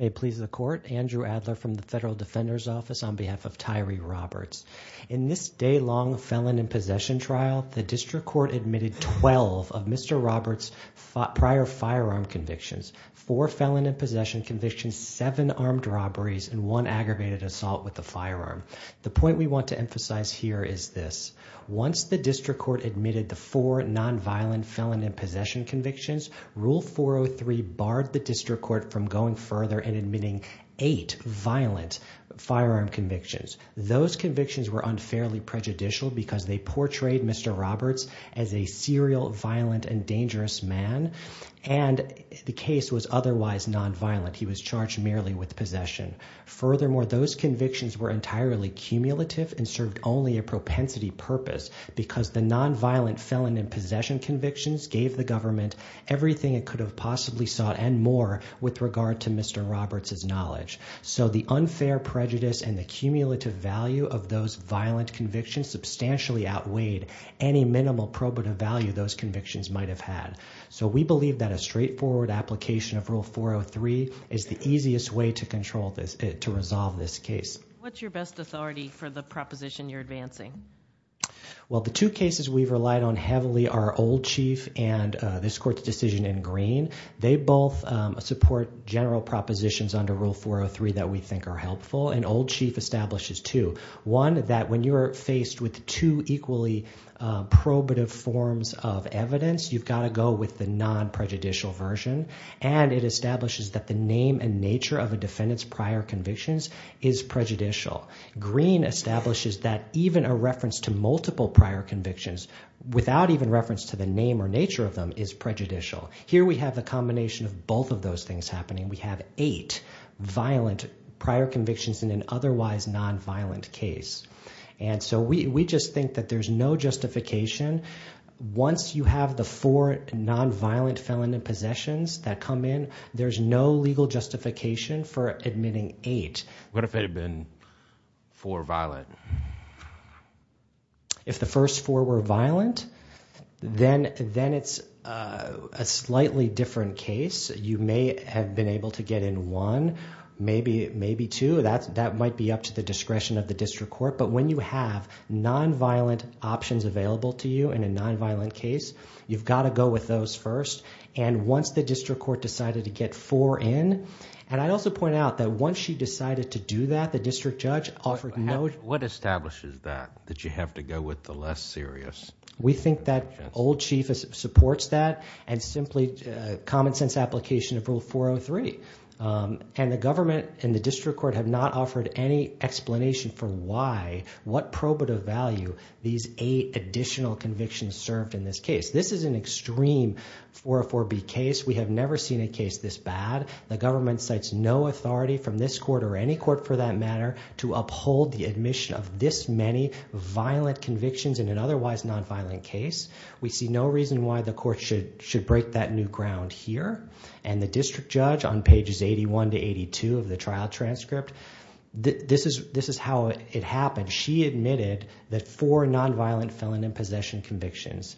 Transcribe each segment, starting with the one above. May it please the Court, Andrew Adler from the Federal Defender's Office on behalf of Tyree Roberts. In this day-long felon in possession trial, the District Court admitted twelve of Mr. Roberts' prior firearm convictions. Four felon in possession convictions, seven armed robberies, and one aggravated assault with a firearm. The point we want to emphasize here is this. Once the District Court admitted the four nonviolent felon in possession convictions, Rule 403 barred the District Court from going further and admitting eight violent firearm convictions. Those convictions were unfairly prejudicial because they portrayed Mr. Roberts as a serial, violent, and dangerous man, and the case was otherwise nonviolent. He was charged merely with possession. Furthermore, those convictions were entirely cumulative and served only a propensity purpose because the nonviolent felon in possession convictions gave the government everything it could have possibly sought and more with regard to Mr. Roberts' knowledge. So the unfair prejudice and the cumulative value of those violent convictions substantially outweighed any minimal probative value those convictions might have had. So we believe that a straightforward application of Rule 403 is the easiest way to control this, to resolve this case. What's your best authority for the proposition you're advancing? Well, the two cases we've relied on heavily are Old Chief and this Court's decision in Green. They both support general propositions under Rule 403 that we think are helpful, and Old Chief establishes two. One, that when you're faced with two equally probative forms of evidence, you've got to go with the non-prejudicial version, and it means that the defendant's prior convictions is prejudicial. Green establishes that even a reference to multiple prior convictions, without even reference to the name or nature of them, is prejudicial. Here we have the combination of both of those things happening. We have eight violent prior convictions in an otherwise nonviolent case. And so we just think that there's no justification. Once you have the four nonviolent felon in possessions that come in, there's no legal justification for admitting eight. What if it had been four violent? If the first four were violent, then it's a slightly different case. You may have been able to get in one, maybe two. That might be up to the discretion of the District Court. But when you have nonviolent options available to you in a nonviolent case, you've got to go with those first. And once the District Court decided to get four in, and I'd also point out that once she decided to do that, the District Judge offered no... What establishes that, that you have to go with the less serious? We think that Old Chief supports that, and simply common sense application of Rule 403. And the government and the District Court have not offered any explanation for why, what probative value these eight additional convictions served in this case. This is an extreme 404B case. We have never seen a case this bad. The government cites no authority from this court, or any court for that matter, to uphold the admission of this many violent convictions in an otherwise nonviolent case. We see no reason why the court should break that new ground here. And the District Judge on pages 81 to 82 of the trial transcript, this is how it happened. She admitted that four nonviolent felon in possession convictions.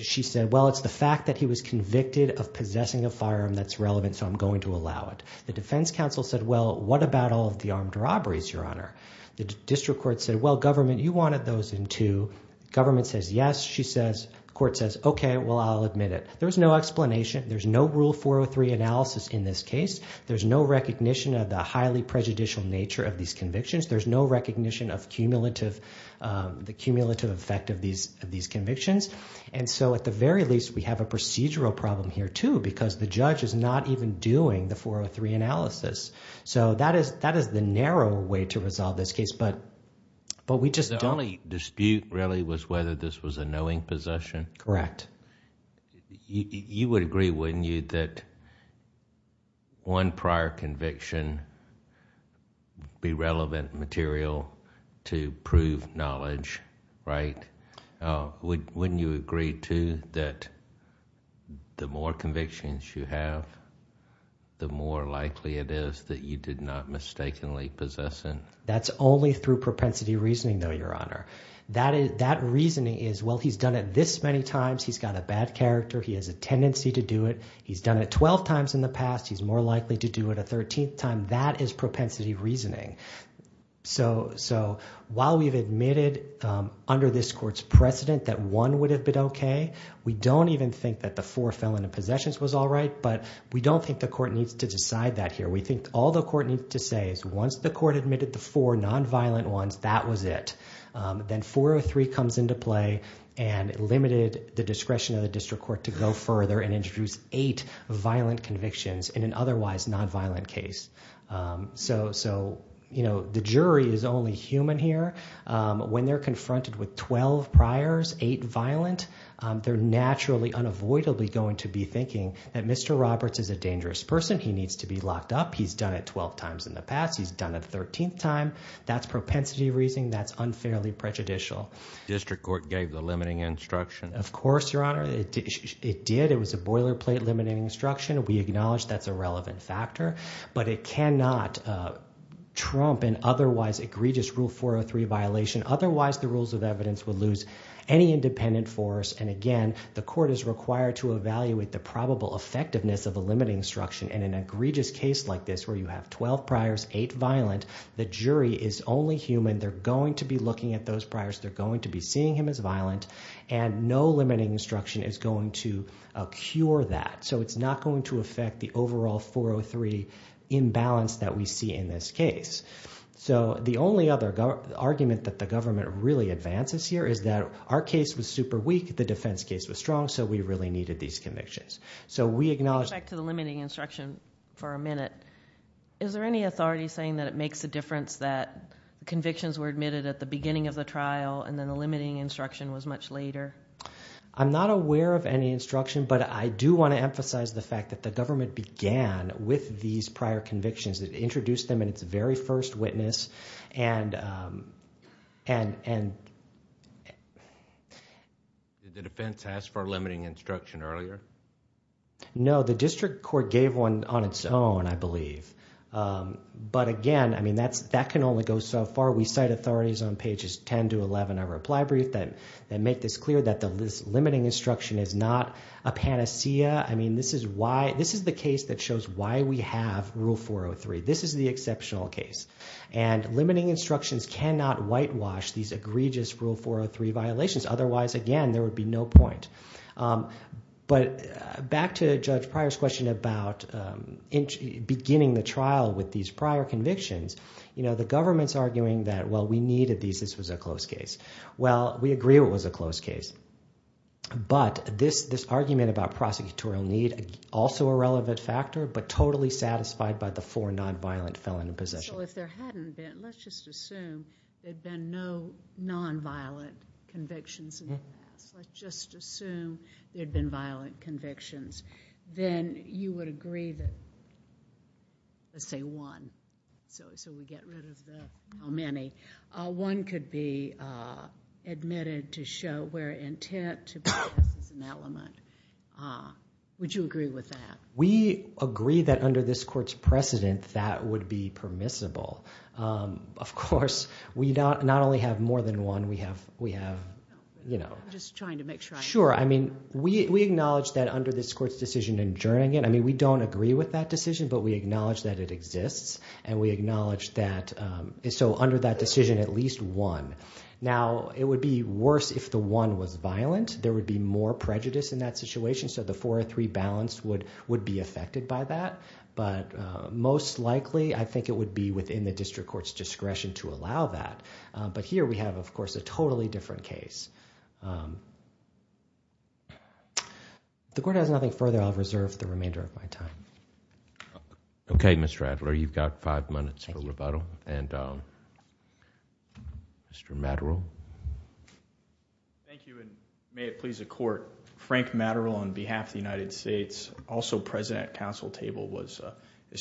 She said, well, it's the fact that he was convicted of possessing a firearm that's relevant, so I'm going to allow it. The Defense Counsel said, well, what about all of the armed robberies, Your Honor? The District Court said, well, government, you wanted those in two. Government says yes. She says, court says, okay, well, I'll admit it. There's no explanation. There's no Rule 403 analysis in this case. There's no recognition of the highly prejudicial nature of these convictions. There's no recognition of the cumulative effect of these convictions. At the very least, we have a procedural problem here, too, because the judge is not even doing the 403 analysis. That is the narrow way to resolve this case, but we just don't... The only dispute, really, was whether this was a knowing possession. Correct. You would agree, wouldn't you, that one prior conviction be relevant material to prove knowledge, right? Wouldn't you agree, too, that the more convictions you have, the more likely it is that you did not mistakenly possess it? That's only through propensity reasoning, though, Your Honor. That reasoning is, well, he's done it this many times. He's got a bad character. He has a tendency to do it. He's done it 12 times in the past. He's more likely to do it a 13th time. That is propensity reasoning. While we've admitted under this court's precedent that one would have been okay, we don't even think that the four felon and possessions was all right, but we don't think the court needs to decide that here. We think all the court needs to say is once the court admitted the four nonviolent ones, that was it. Then 403 comes into play and limited the discretion of the district court to go further and introduce eight violent convictions in an otherwise nonviolent case. The jury is only human here. When they're confronted with 12 priors, eight violent, they're naturally, unavoidably going to be thinking that Mr. Roberts is a dangerous person. He needs to be locked up. He's done it 12 times in the past. He's done it 13th time. That's propensity reasoning. That's unfairly prejudicial. District court gave the limiting instruction. Of course, Your Honor. It did. It was a boilerplate limiting instruction. We acknowledge that's a relevant factor, but it cannot trump an otherwise egregious rule 403 violation. Otherwise, the rules of evidence would lose any independent force. Again, the court is required to evaluate the probable effectiveness of a limiting instruction. In an egregious case like this where you have 12 priors, eight violent, the jury is only human. They're going to be looking at those priors. They're going to be seeing him as violent. No limiting instruction is going to cure that. It's not going to affect the overall 403 imbalance that we see in this case. The only other argument that the government really advances here is that our case was an egregious case. We acknowledge... Let's go back to the limiting instruction for a minute. Is there any authority saying that it makes a difference that convictions were admitted at the beginning of the trial and then the limiting instruction was much later? I'm not aware of any instruction, but I do want to emphasize the fact that the government began with these prior convictions. It introduced them in its very first witness. Did the defense ask for a limiting instruction earlier? No. The district court gave one on its own, I believe. Again, that can only go so far. We cite authorities on pages 10 to 11 of our reply brief that make this clear that this limiting instruction is not a panacea. This is the case that shows why we have Rule 403. This is the exceptional case. Limiting instructions cannot whitewash these egregious Rule 403 violations. Otherwise, again, there would be no point. Back to Judge Pryor's question about beginning the trial with these prior convictions, the government's arguing that, well, we needed these. This was a close case. Well, we agree it was a close case, but this argument about prosecutorial need, also a relevant factor, but totally satisfied by the four nonviolent felon in possession. So if there hadn't been, let's just assume, there'd been no nonviolent convictions in the past, let's just assume there'd been violent convictions, then you would agree that, let's say one, so we get rid of the how many, one could be admitted to show where intent to possess is an element. Would you agree with that? We agree that under this court's precedent, that would be permissible. Of course, we not only have more than one, we have, you know. I'm just trying to make sure I understand. Sure. I mean, we acknowledge that under this court's decision in Jernigan, I mean, we don't agree with that decision, but we acknowledge that it exists, and we acknowledge that, so under that decision, at least one. Now, it would be worse if the one was violent. There would be more prejudice in that situation, so the four or three balance would be affected by that, but most likely, I think it would be within the district court's discretion to allow that, but here, we have, of course, a totally different case. If the court has nothing further, I'll reserve the remainder of my time. Okay, Mr. Adler, you've got five minutes for rebuttal, and Mr. Maddrell. Thank you, and may it please the court. Frank Maddrell on behalf of the United States, also president at Council Table, was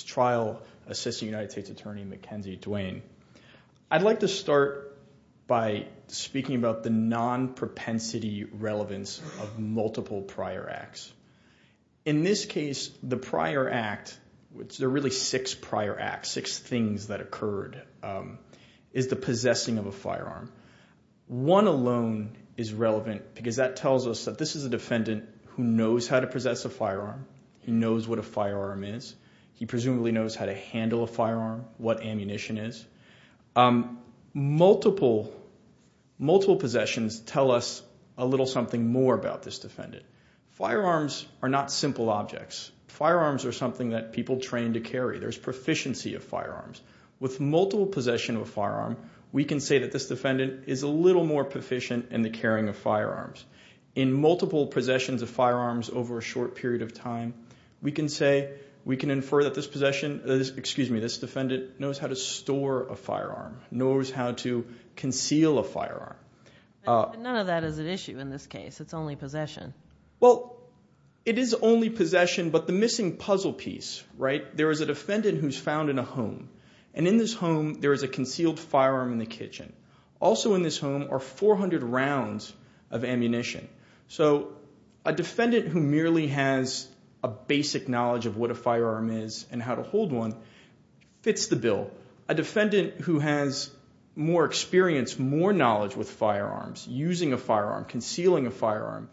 trial assistant United States attorney, Mackenzie Duane. I'd like to start by speaking about the non-propensity relevance of multiple prior acts. In this case, the prior act, there are really six prior acts, six things that occurred, is the one alone is relevant because that tells us that this is a defendant who knows how to possess a firearm. He knows what a firearm is. He presumably knows how to handle a firearm, what ammunition is. Multiple possessions tell us a little something more about this defendant. Firearms are not simple objects. Firearms are something that people train to carry. There's proficiency of firearms. With multiple possession of a firearm, we can say that this defendant is a little more proficient in the carrying of firearms. In multiple possessions of firearms over a short period of time, we can say, we can infer that this defendant knows how to store a firearm, knows how to conceal a firearm. None of that is an issue in this case. It's only possession. It is only possession, but the missing puzzle piece, right? There is a defendant who's found in a home. In this home, there is a concealed firearm in the kitchen. Also in this home are 400 rounds of ammunition. A defendant who merely has a basic knowledge of what a firearm is and how to hold one fits the bill. A defendant who has more experience, more knowledge with firearms, using a firearm, concealing a firearm,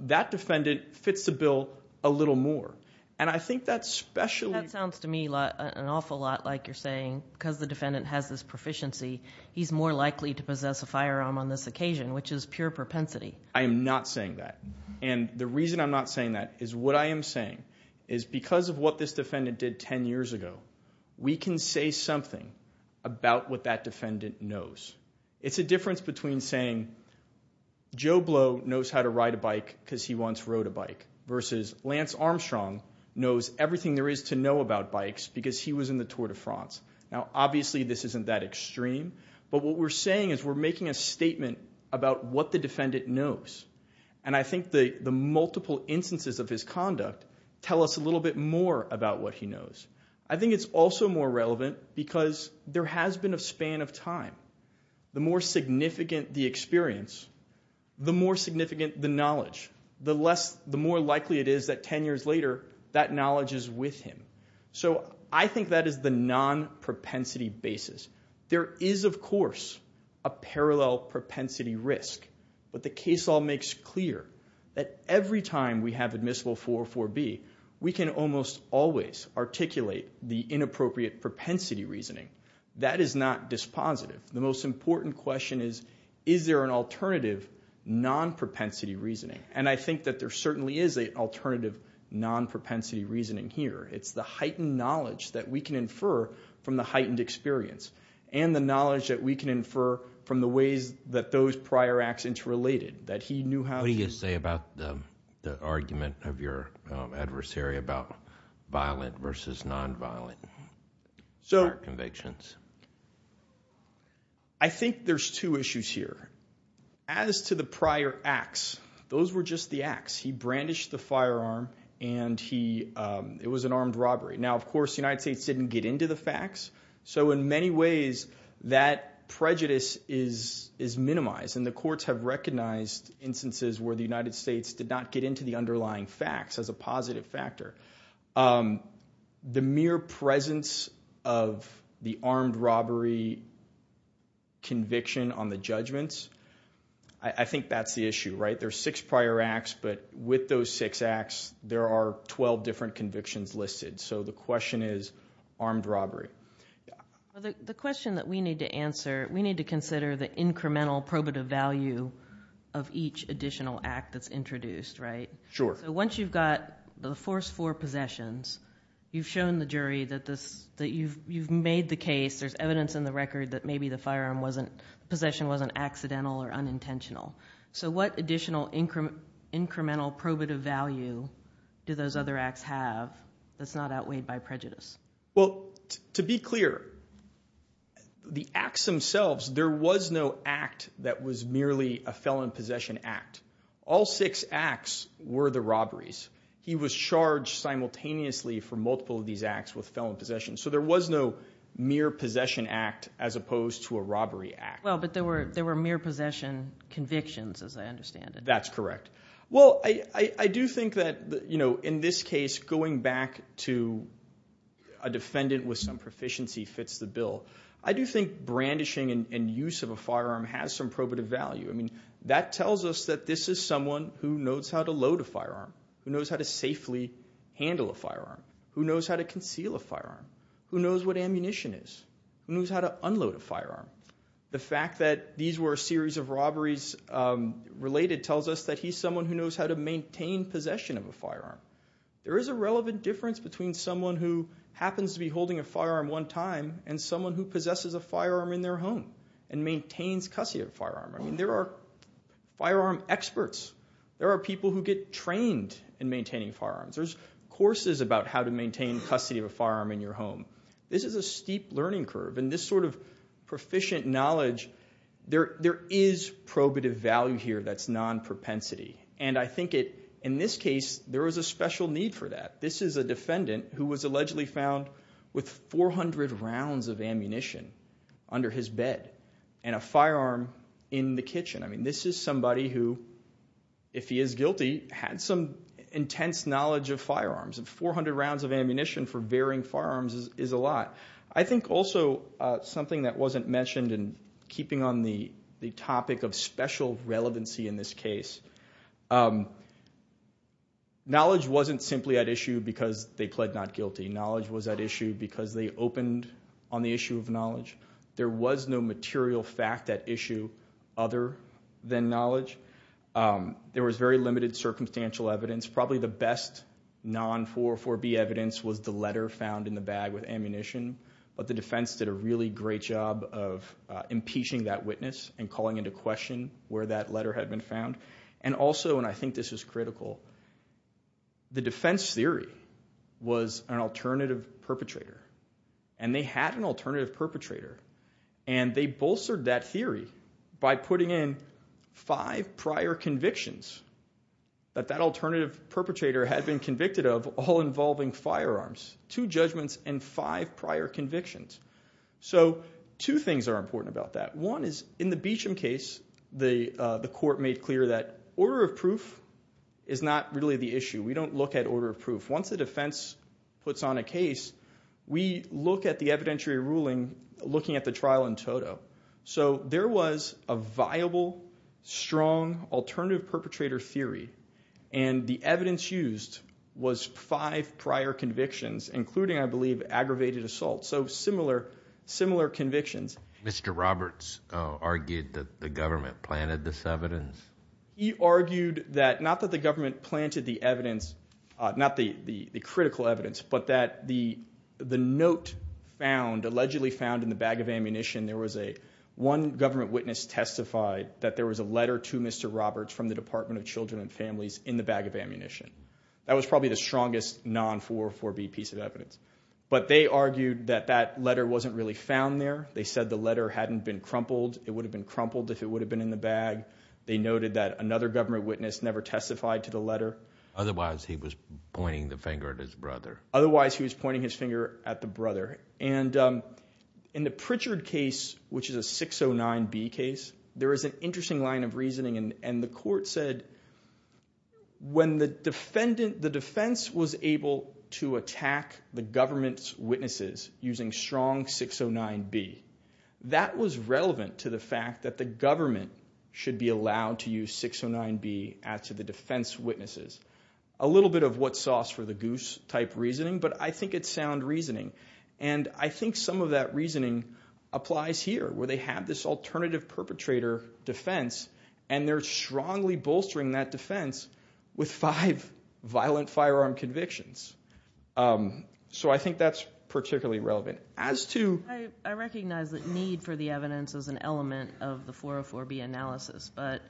that defendant fits the bill a little more. And I think that's special. That sounds to me an awful lot like you're saying, because the defendant has this proficiency, he's more likely to possess a firearm on this occasion, which is pure propensity. I am not saying that. And the reason I'm not saying that is what I am saying is because of what this defendant did 10 years ago, we can say something about what that defendant knows. It's a difference between saying, Joe Blow knows how to ride a bike because he once rode a bike, versus Lance Armstrong knows everything there is to know about bikes because he was in the Tour de France. Now obviously this isn't that extreme, but what we're saying is we're making a statement about what the defendant knows. And I think the multiple instances of his conduct tell us a little bit more about what he knows. I think it's also more relevant because there has been a span of time. The more significant the experience, the more significant the knowledge. The more likely it is that 10 years later that knowledge is with him. So I think that is the non-propensity basis. There is, of course, a parallel propensity risk. But the case law makes clear that every time we have admissible 404B, we can almost always articulate the inappropriate propensity reasoning. That is not dispositive. The most important question is, is there an alternative non-propensity reasoning? And I think that there certainly is an alternative non-propensity reasoning here. It's the heightened knowledge that we can infer from the heightened experience. And the knowledge that we can infer from the ways that those prior acts interrelated. What do you say about the argument of your adversary about violent versus non-violent convictions? I think there are two issues here. As to the prior acts, those were just the acts. He brandished the firearm and it was an armed robbery. Now, of course, the United States didn't get into the facts. So in many ways, that prejudice is minimized. And the courts have recognized instances where the United States did not get into the underlying facts as a positive factor. The mere presence of the armed robbery conviction on the judgments, I think that's the issue. There are six prior acts, but with those six acts, there are 12 different convictions listed. So the question is armed robbery. The question that we need to answer, we need to consider the incremental probative value of each additional act that's introduced. So once you've got the first four possessions, you've shown the jury that you've made the case. There's evidence in the record that maybe the possession wasn't accidental or unintentional. So what additional incremental probative value do those other acts have that's not outweighed by prejudice? Well, to be clear, the acts themselves, there was no act that was merely a felon possession act. All six acts were the robberies. He was charged simultaneously for multiple of these acts with felon possessions. So there was no mere possession act as opposed to a robbery act. Well, but there were mere possession convictions, as I understand it. That's correct. Well, I do think that in this case, going back to a defendant with some proficiency fits the bill. I do think brandishing and use of a firearm has some probative value. That tells us that this is someone who knows how to load a firearm, who knows how to safely handle a firearm, who knows how to conceal a firearm, who knows what ammunition is, who knows how to unload a firearm. The fact that these were a series of robberies related tells us that he's someone who knows how to maintain possession of a firearm. There is a relevant difference between someone who happens to be holding a firearm one time and someone who possesses a firearm in their home and maintains custody of a firearm. I mean, there are firearm experts. There are people who get trained in maintaining firearms. There's courses about how to maintain custody of a firearm. With sufficient knowledge, there is probative value here that's non-propensity. I think in this case, there was a special need for that. This is a defendant who was allegedly found with 400 rounds of ammunition under his bed and a firearm in the kitchen. This is somebody who, if he is guilty, had some intense knowledge of firearms. 400 rounds of ammunition for varying firearms is a lot. I think also something that wasn't mentioned in keeping on the topic of special relevancy in this case, knowledge wasn't simply at issue because they pled not guilty. Knowledge was at issue because they opened on the issue of knowledge. There was no material fact at issue other than knowledge. There was very little material fact. The defense did a really great job of impeaching that witness and calling into question where that letter had been found. Also, and I think this is critical, the defense theory was an alternative perpetrator. They had an alternative perpetrator and they bolstered that theory by putting in five prior convictions that that alternative perpetrator had been armed with firearms. Two judgments and five prior convictions. Two things are important about that. One is in the Beecham case, the court made clear that order of proof is not really the issue. We don't look at order of proof. Once the defense puts on a case, we look at the evidentiary ruling looking at the trial in total. There was a viable, strong alternative perpetrator theory and the evidence used was five prior convictions, including I believe aggravated assault. So similar convictions. Mr. Roberts argued that the government planted this evidence. He argued that not that the government planted the evidence, not the critical evidence, but that the note found, allegedly found in the bag of ammunition, there was one government witness testified that there was a letter to Mr. Roberts from the Department of Children and Families in the bag of ammunition. That was probably the strongest non-404B piece of evidence. But they argued that that letter wasn't really found there. They said the letter hadn't been crumpled. It would have been crumpled if it would have been in the bag. They noted that another government witness never testified to the letter. Otherwise he was pointing the finger at his brother. Otherwise he was pointing his finger at the brother. And in the Pritchard case, which is a 609B case, there is an interesting line of reasoning. And the court said when the defense was able to attack the government's witnesses using strong 609B, that was relevant to the fact that the government should be allowed to use 609B after the defense witnesses. A little bit of what's sauce for the goose type reasoning, but I think it's sound reasoning. I think some of that reasoning applies here, where they have this alternative perpetrator defense, and they're strongly bolstering that defense with five violent firearm convictions. So I think that's particularly relevant. I recognize that need for the evidence is an element of the 404B analysis, but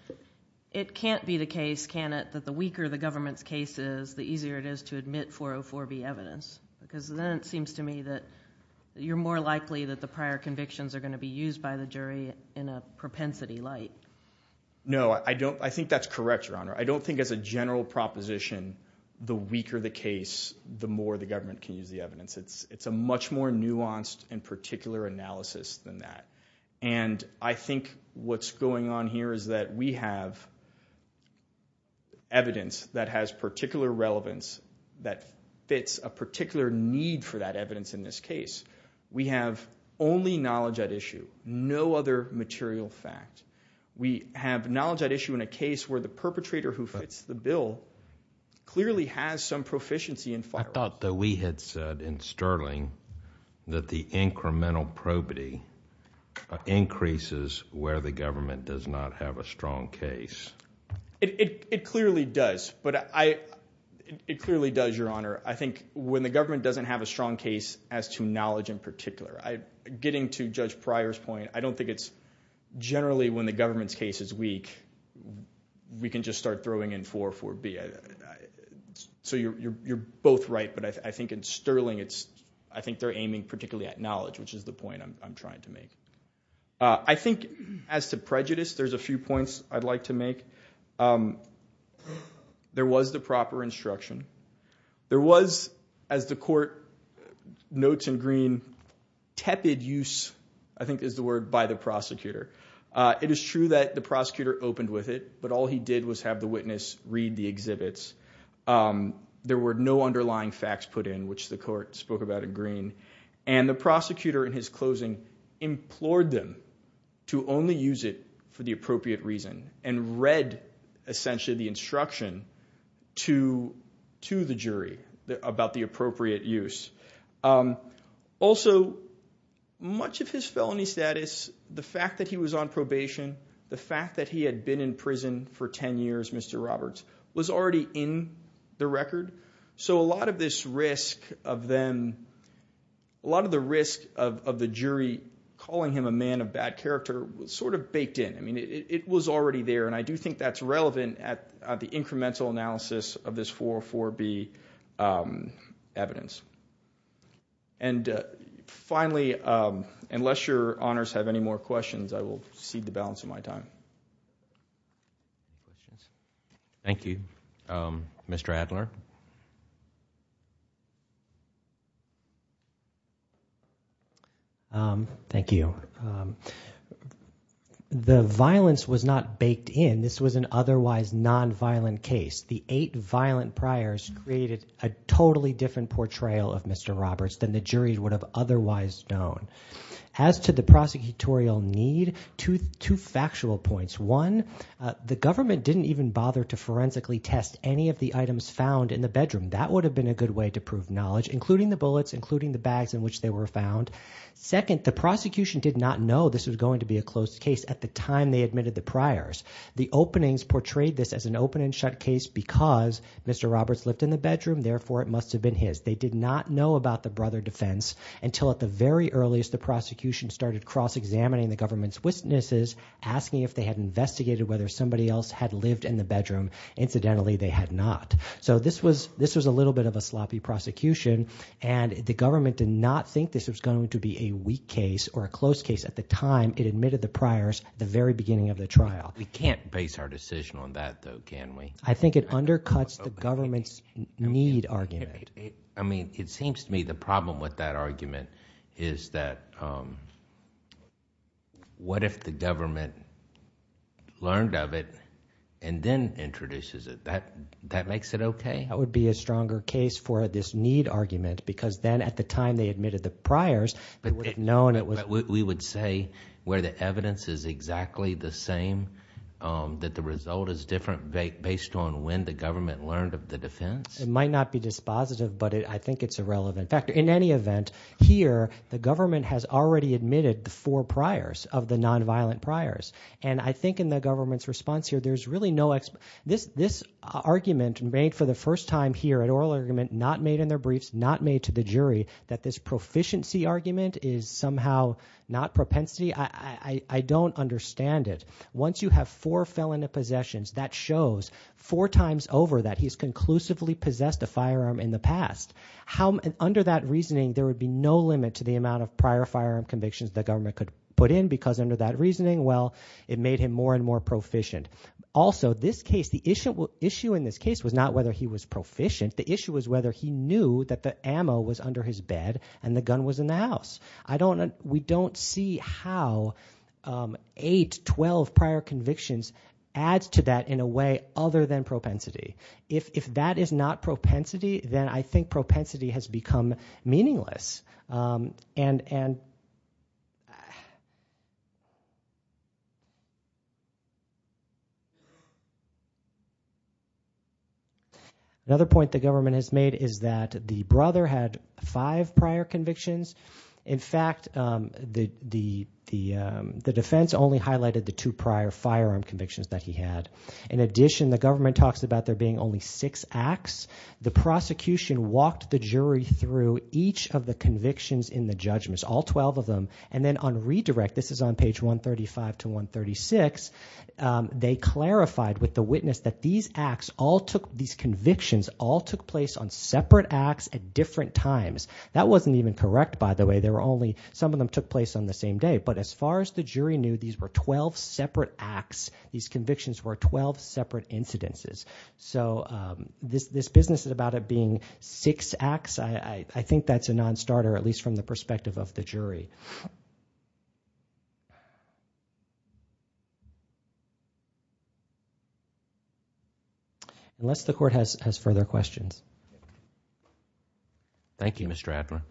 it can't be the case, can it, that the weaker the government's case is, the easier it is to admit 404B evidence. Because then it seems to me that you're more likely that the prior convictions are going to be used by the jury in a propensity light. No, I think that's correct, Your Honor. I don't think as a general proposition the weaker the case, the more the government can use the evidence. It's a much more nuanced and particular analysis than that. And I think what's going on here is that we have evidence that has particular relevance that fits a particular need for that evidence in this case. We have only knowledge at issue, no other material fact. We have knowledge at issue in a case where the perpetrator who fits the bill clearly has some proficiency in firearms. I thought that we had said in Sterling that the incremental probity increases where the government does not have a strong case. It clearly does, Your Honor. I think when the government doesn't have a strong case as to knowledge in particular, getting to Judge Pryor's point, I don't think it's generally when the government's case is weak, we can just start throwing in 404B. So you're both right, but I think in Sterling, I think they're aiming particularly at knowledge, which is the point I'm trying to make. I think as to prejudice, there's a few points I'd like to make. There was the proper instruction. There was, as the court notes in green, tepid use, I think is the word, by the prosecutor. It is true that the prosecutor opened with it, but all he did was have the witness read the exhibits. There were no underlying facts put in, which the court spoke about in green. The prosecutor in his closing implored them to only use it for the appropriate reason and read essentially the instruction to the jury about the appropriate use. Also much of his felony status, the fact that he was on probation, the fact that he had been in prison for 10 years, Mr. Roberts, was already in the record. So a lot of this risk of them, a lot of the risk of the jury calling him a man of bad character was sort of baked in. I mean, it was already there, and I do think that's relevant at the incremental analysis of this 404B evidence. Finally, unless your honors have any more questions, I will cede the balance of my time. Thank you. Mr. Adler? Thank you. The violence was not baked in. This was an otherwise nonviolent case. The eight violent priors created a totally different portrayal of Mr. Roberts than the jury would have otherwise known. As to the prosecutorial need, two factual points. One, the government didn't even bother to forensically test any of the items found in the bedroom. That would have been a good way to prove knowledge, including the bullets, including the bags in which they were found. Second, the prosecution did not know this was going to be a closed case at the time they admitted the priors. The openings portrayed this as an open and shut case because Mr. Roberts lived in the bedroom, therefore it must have been his. They did not know about the brother defense until at the very earliest the prosecution started cross-examining the government's witnesses, asking if they had investigated whether somebody else had lived in the bedroom. Incidentally, they had not. So this was a little bit of a sloppy prosecution, and the government did not think this was going to be a weak case or a closed case at the time it admitted the priors at the very beginning of the trial. We can't base our decision on that, though, can we? I think it undercuts the government's need argument. I mean, it seems to me the problem with that argument is that what if the government learned of it and then introduces it? That makes it okay? That would be a stronger case for this need argument because then at the time they admitted the priors, they would have known it was... We would say where the evidence is exactly the same, that the result is different based on when the government learned of the defense? It might not be dispositive, but I think it's a relevant factor. In any event, here the government has already admitted the four priors of the nonviolent priors, and I think in the government's response here there's really no... This argument made for the first time here, an oral argument not made in their briefs, not made to the jury, that this proficiency argument is somehow not propensity, I don't understand it. Once you have four felon possessions, that means he possessed a firearm in the past. Under that reasoning, there would be no limit to the amount of prior firearm convictions the government could put in because under that reasoning, well, it made him more and more proficient. Also this case, the issue in this case was not whether he was proficient, the issue was whether he knew that the ammo was under his bed and the gun was in the house. We don't see how eight, 12 prior convictions adds to that in a way other than propensity. If that is not propensity, then I think propensity has become meaningless. Another point the government has made is that the brother had five prior convictions. In fact, the defense only highlighted the two prior firearm convictions that he had. In addition, the government talks about there being only six acts. The prosecution walked the jury through each of the convictions in the judgments, all 12 of them, and then on redirect, this is on page 135 to 136, they clarified with the witness that these acts, these convictions all took place on separate acts at different times. That wasn't even correct by the way, some of them took place on the same day, but as far as the jury knew, these were 12 separate acts, these convictions were 12 separate incidences. This business is about it being six acts, I think that's a non-starter, at least from the perspective of the jury. Unless the court has further questions. Thank you Mr. Adler.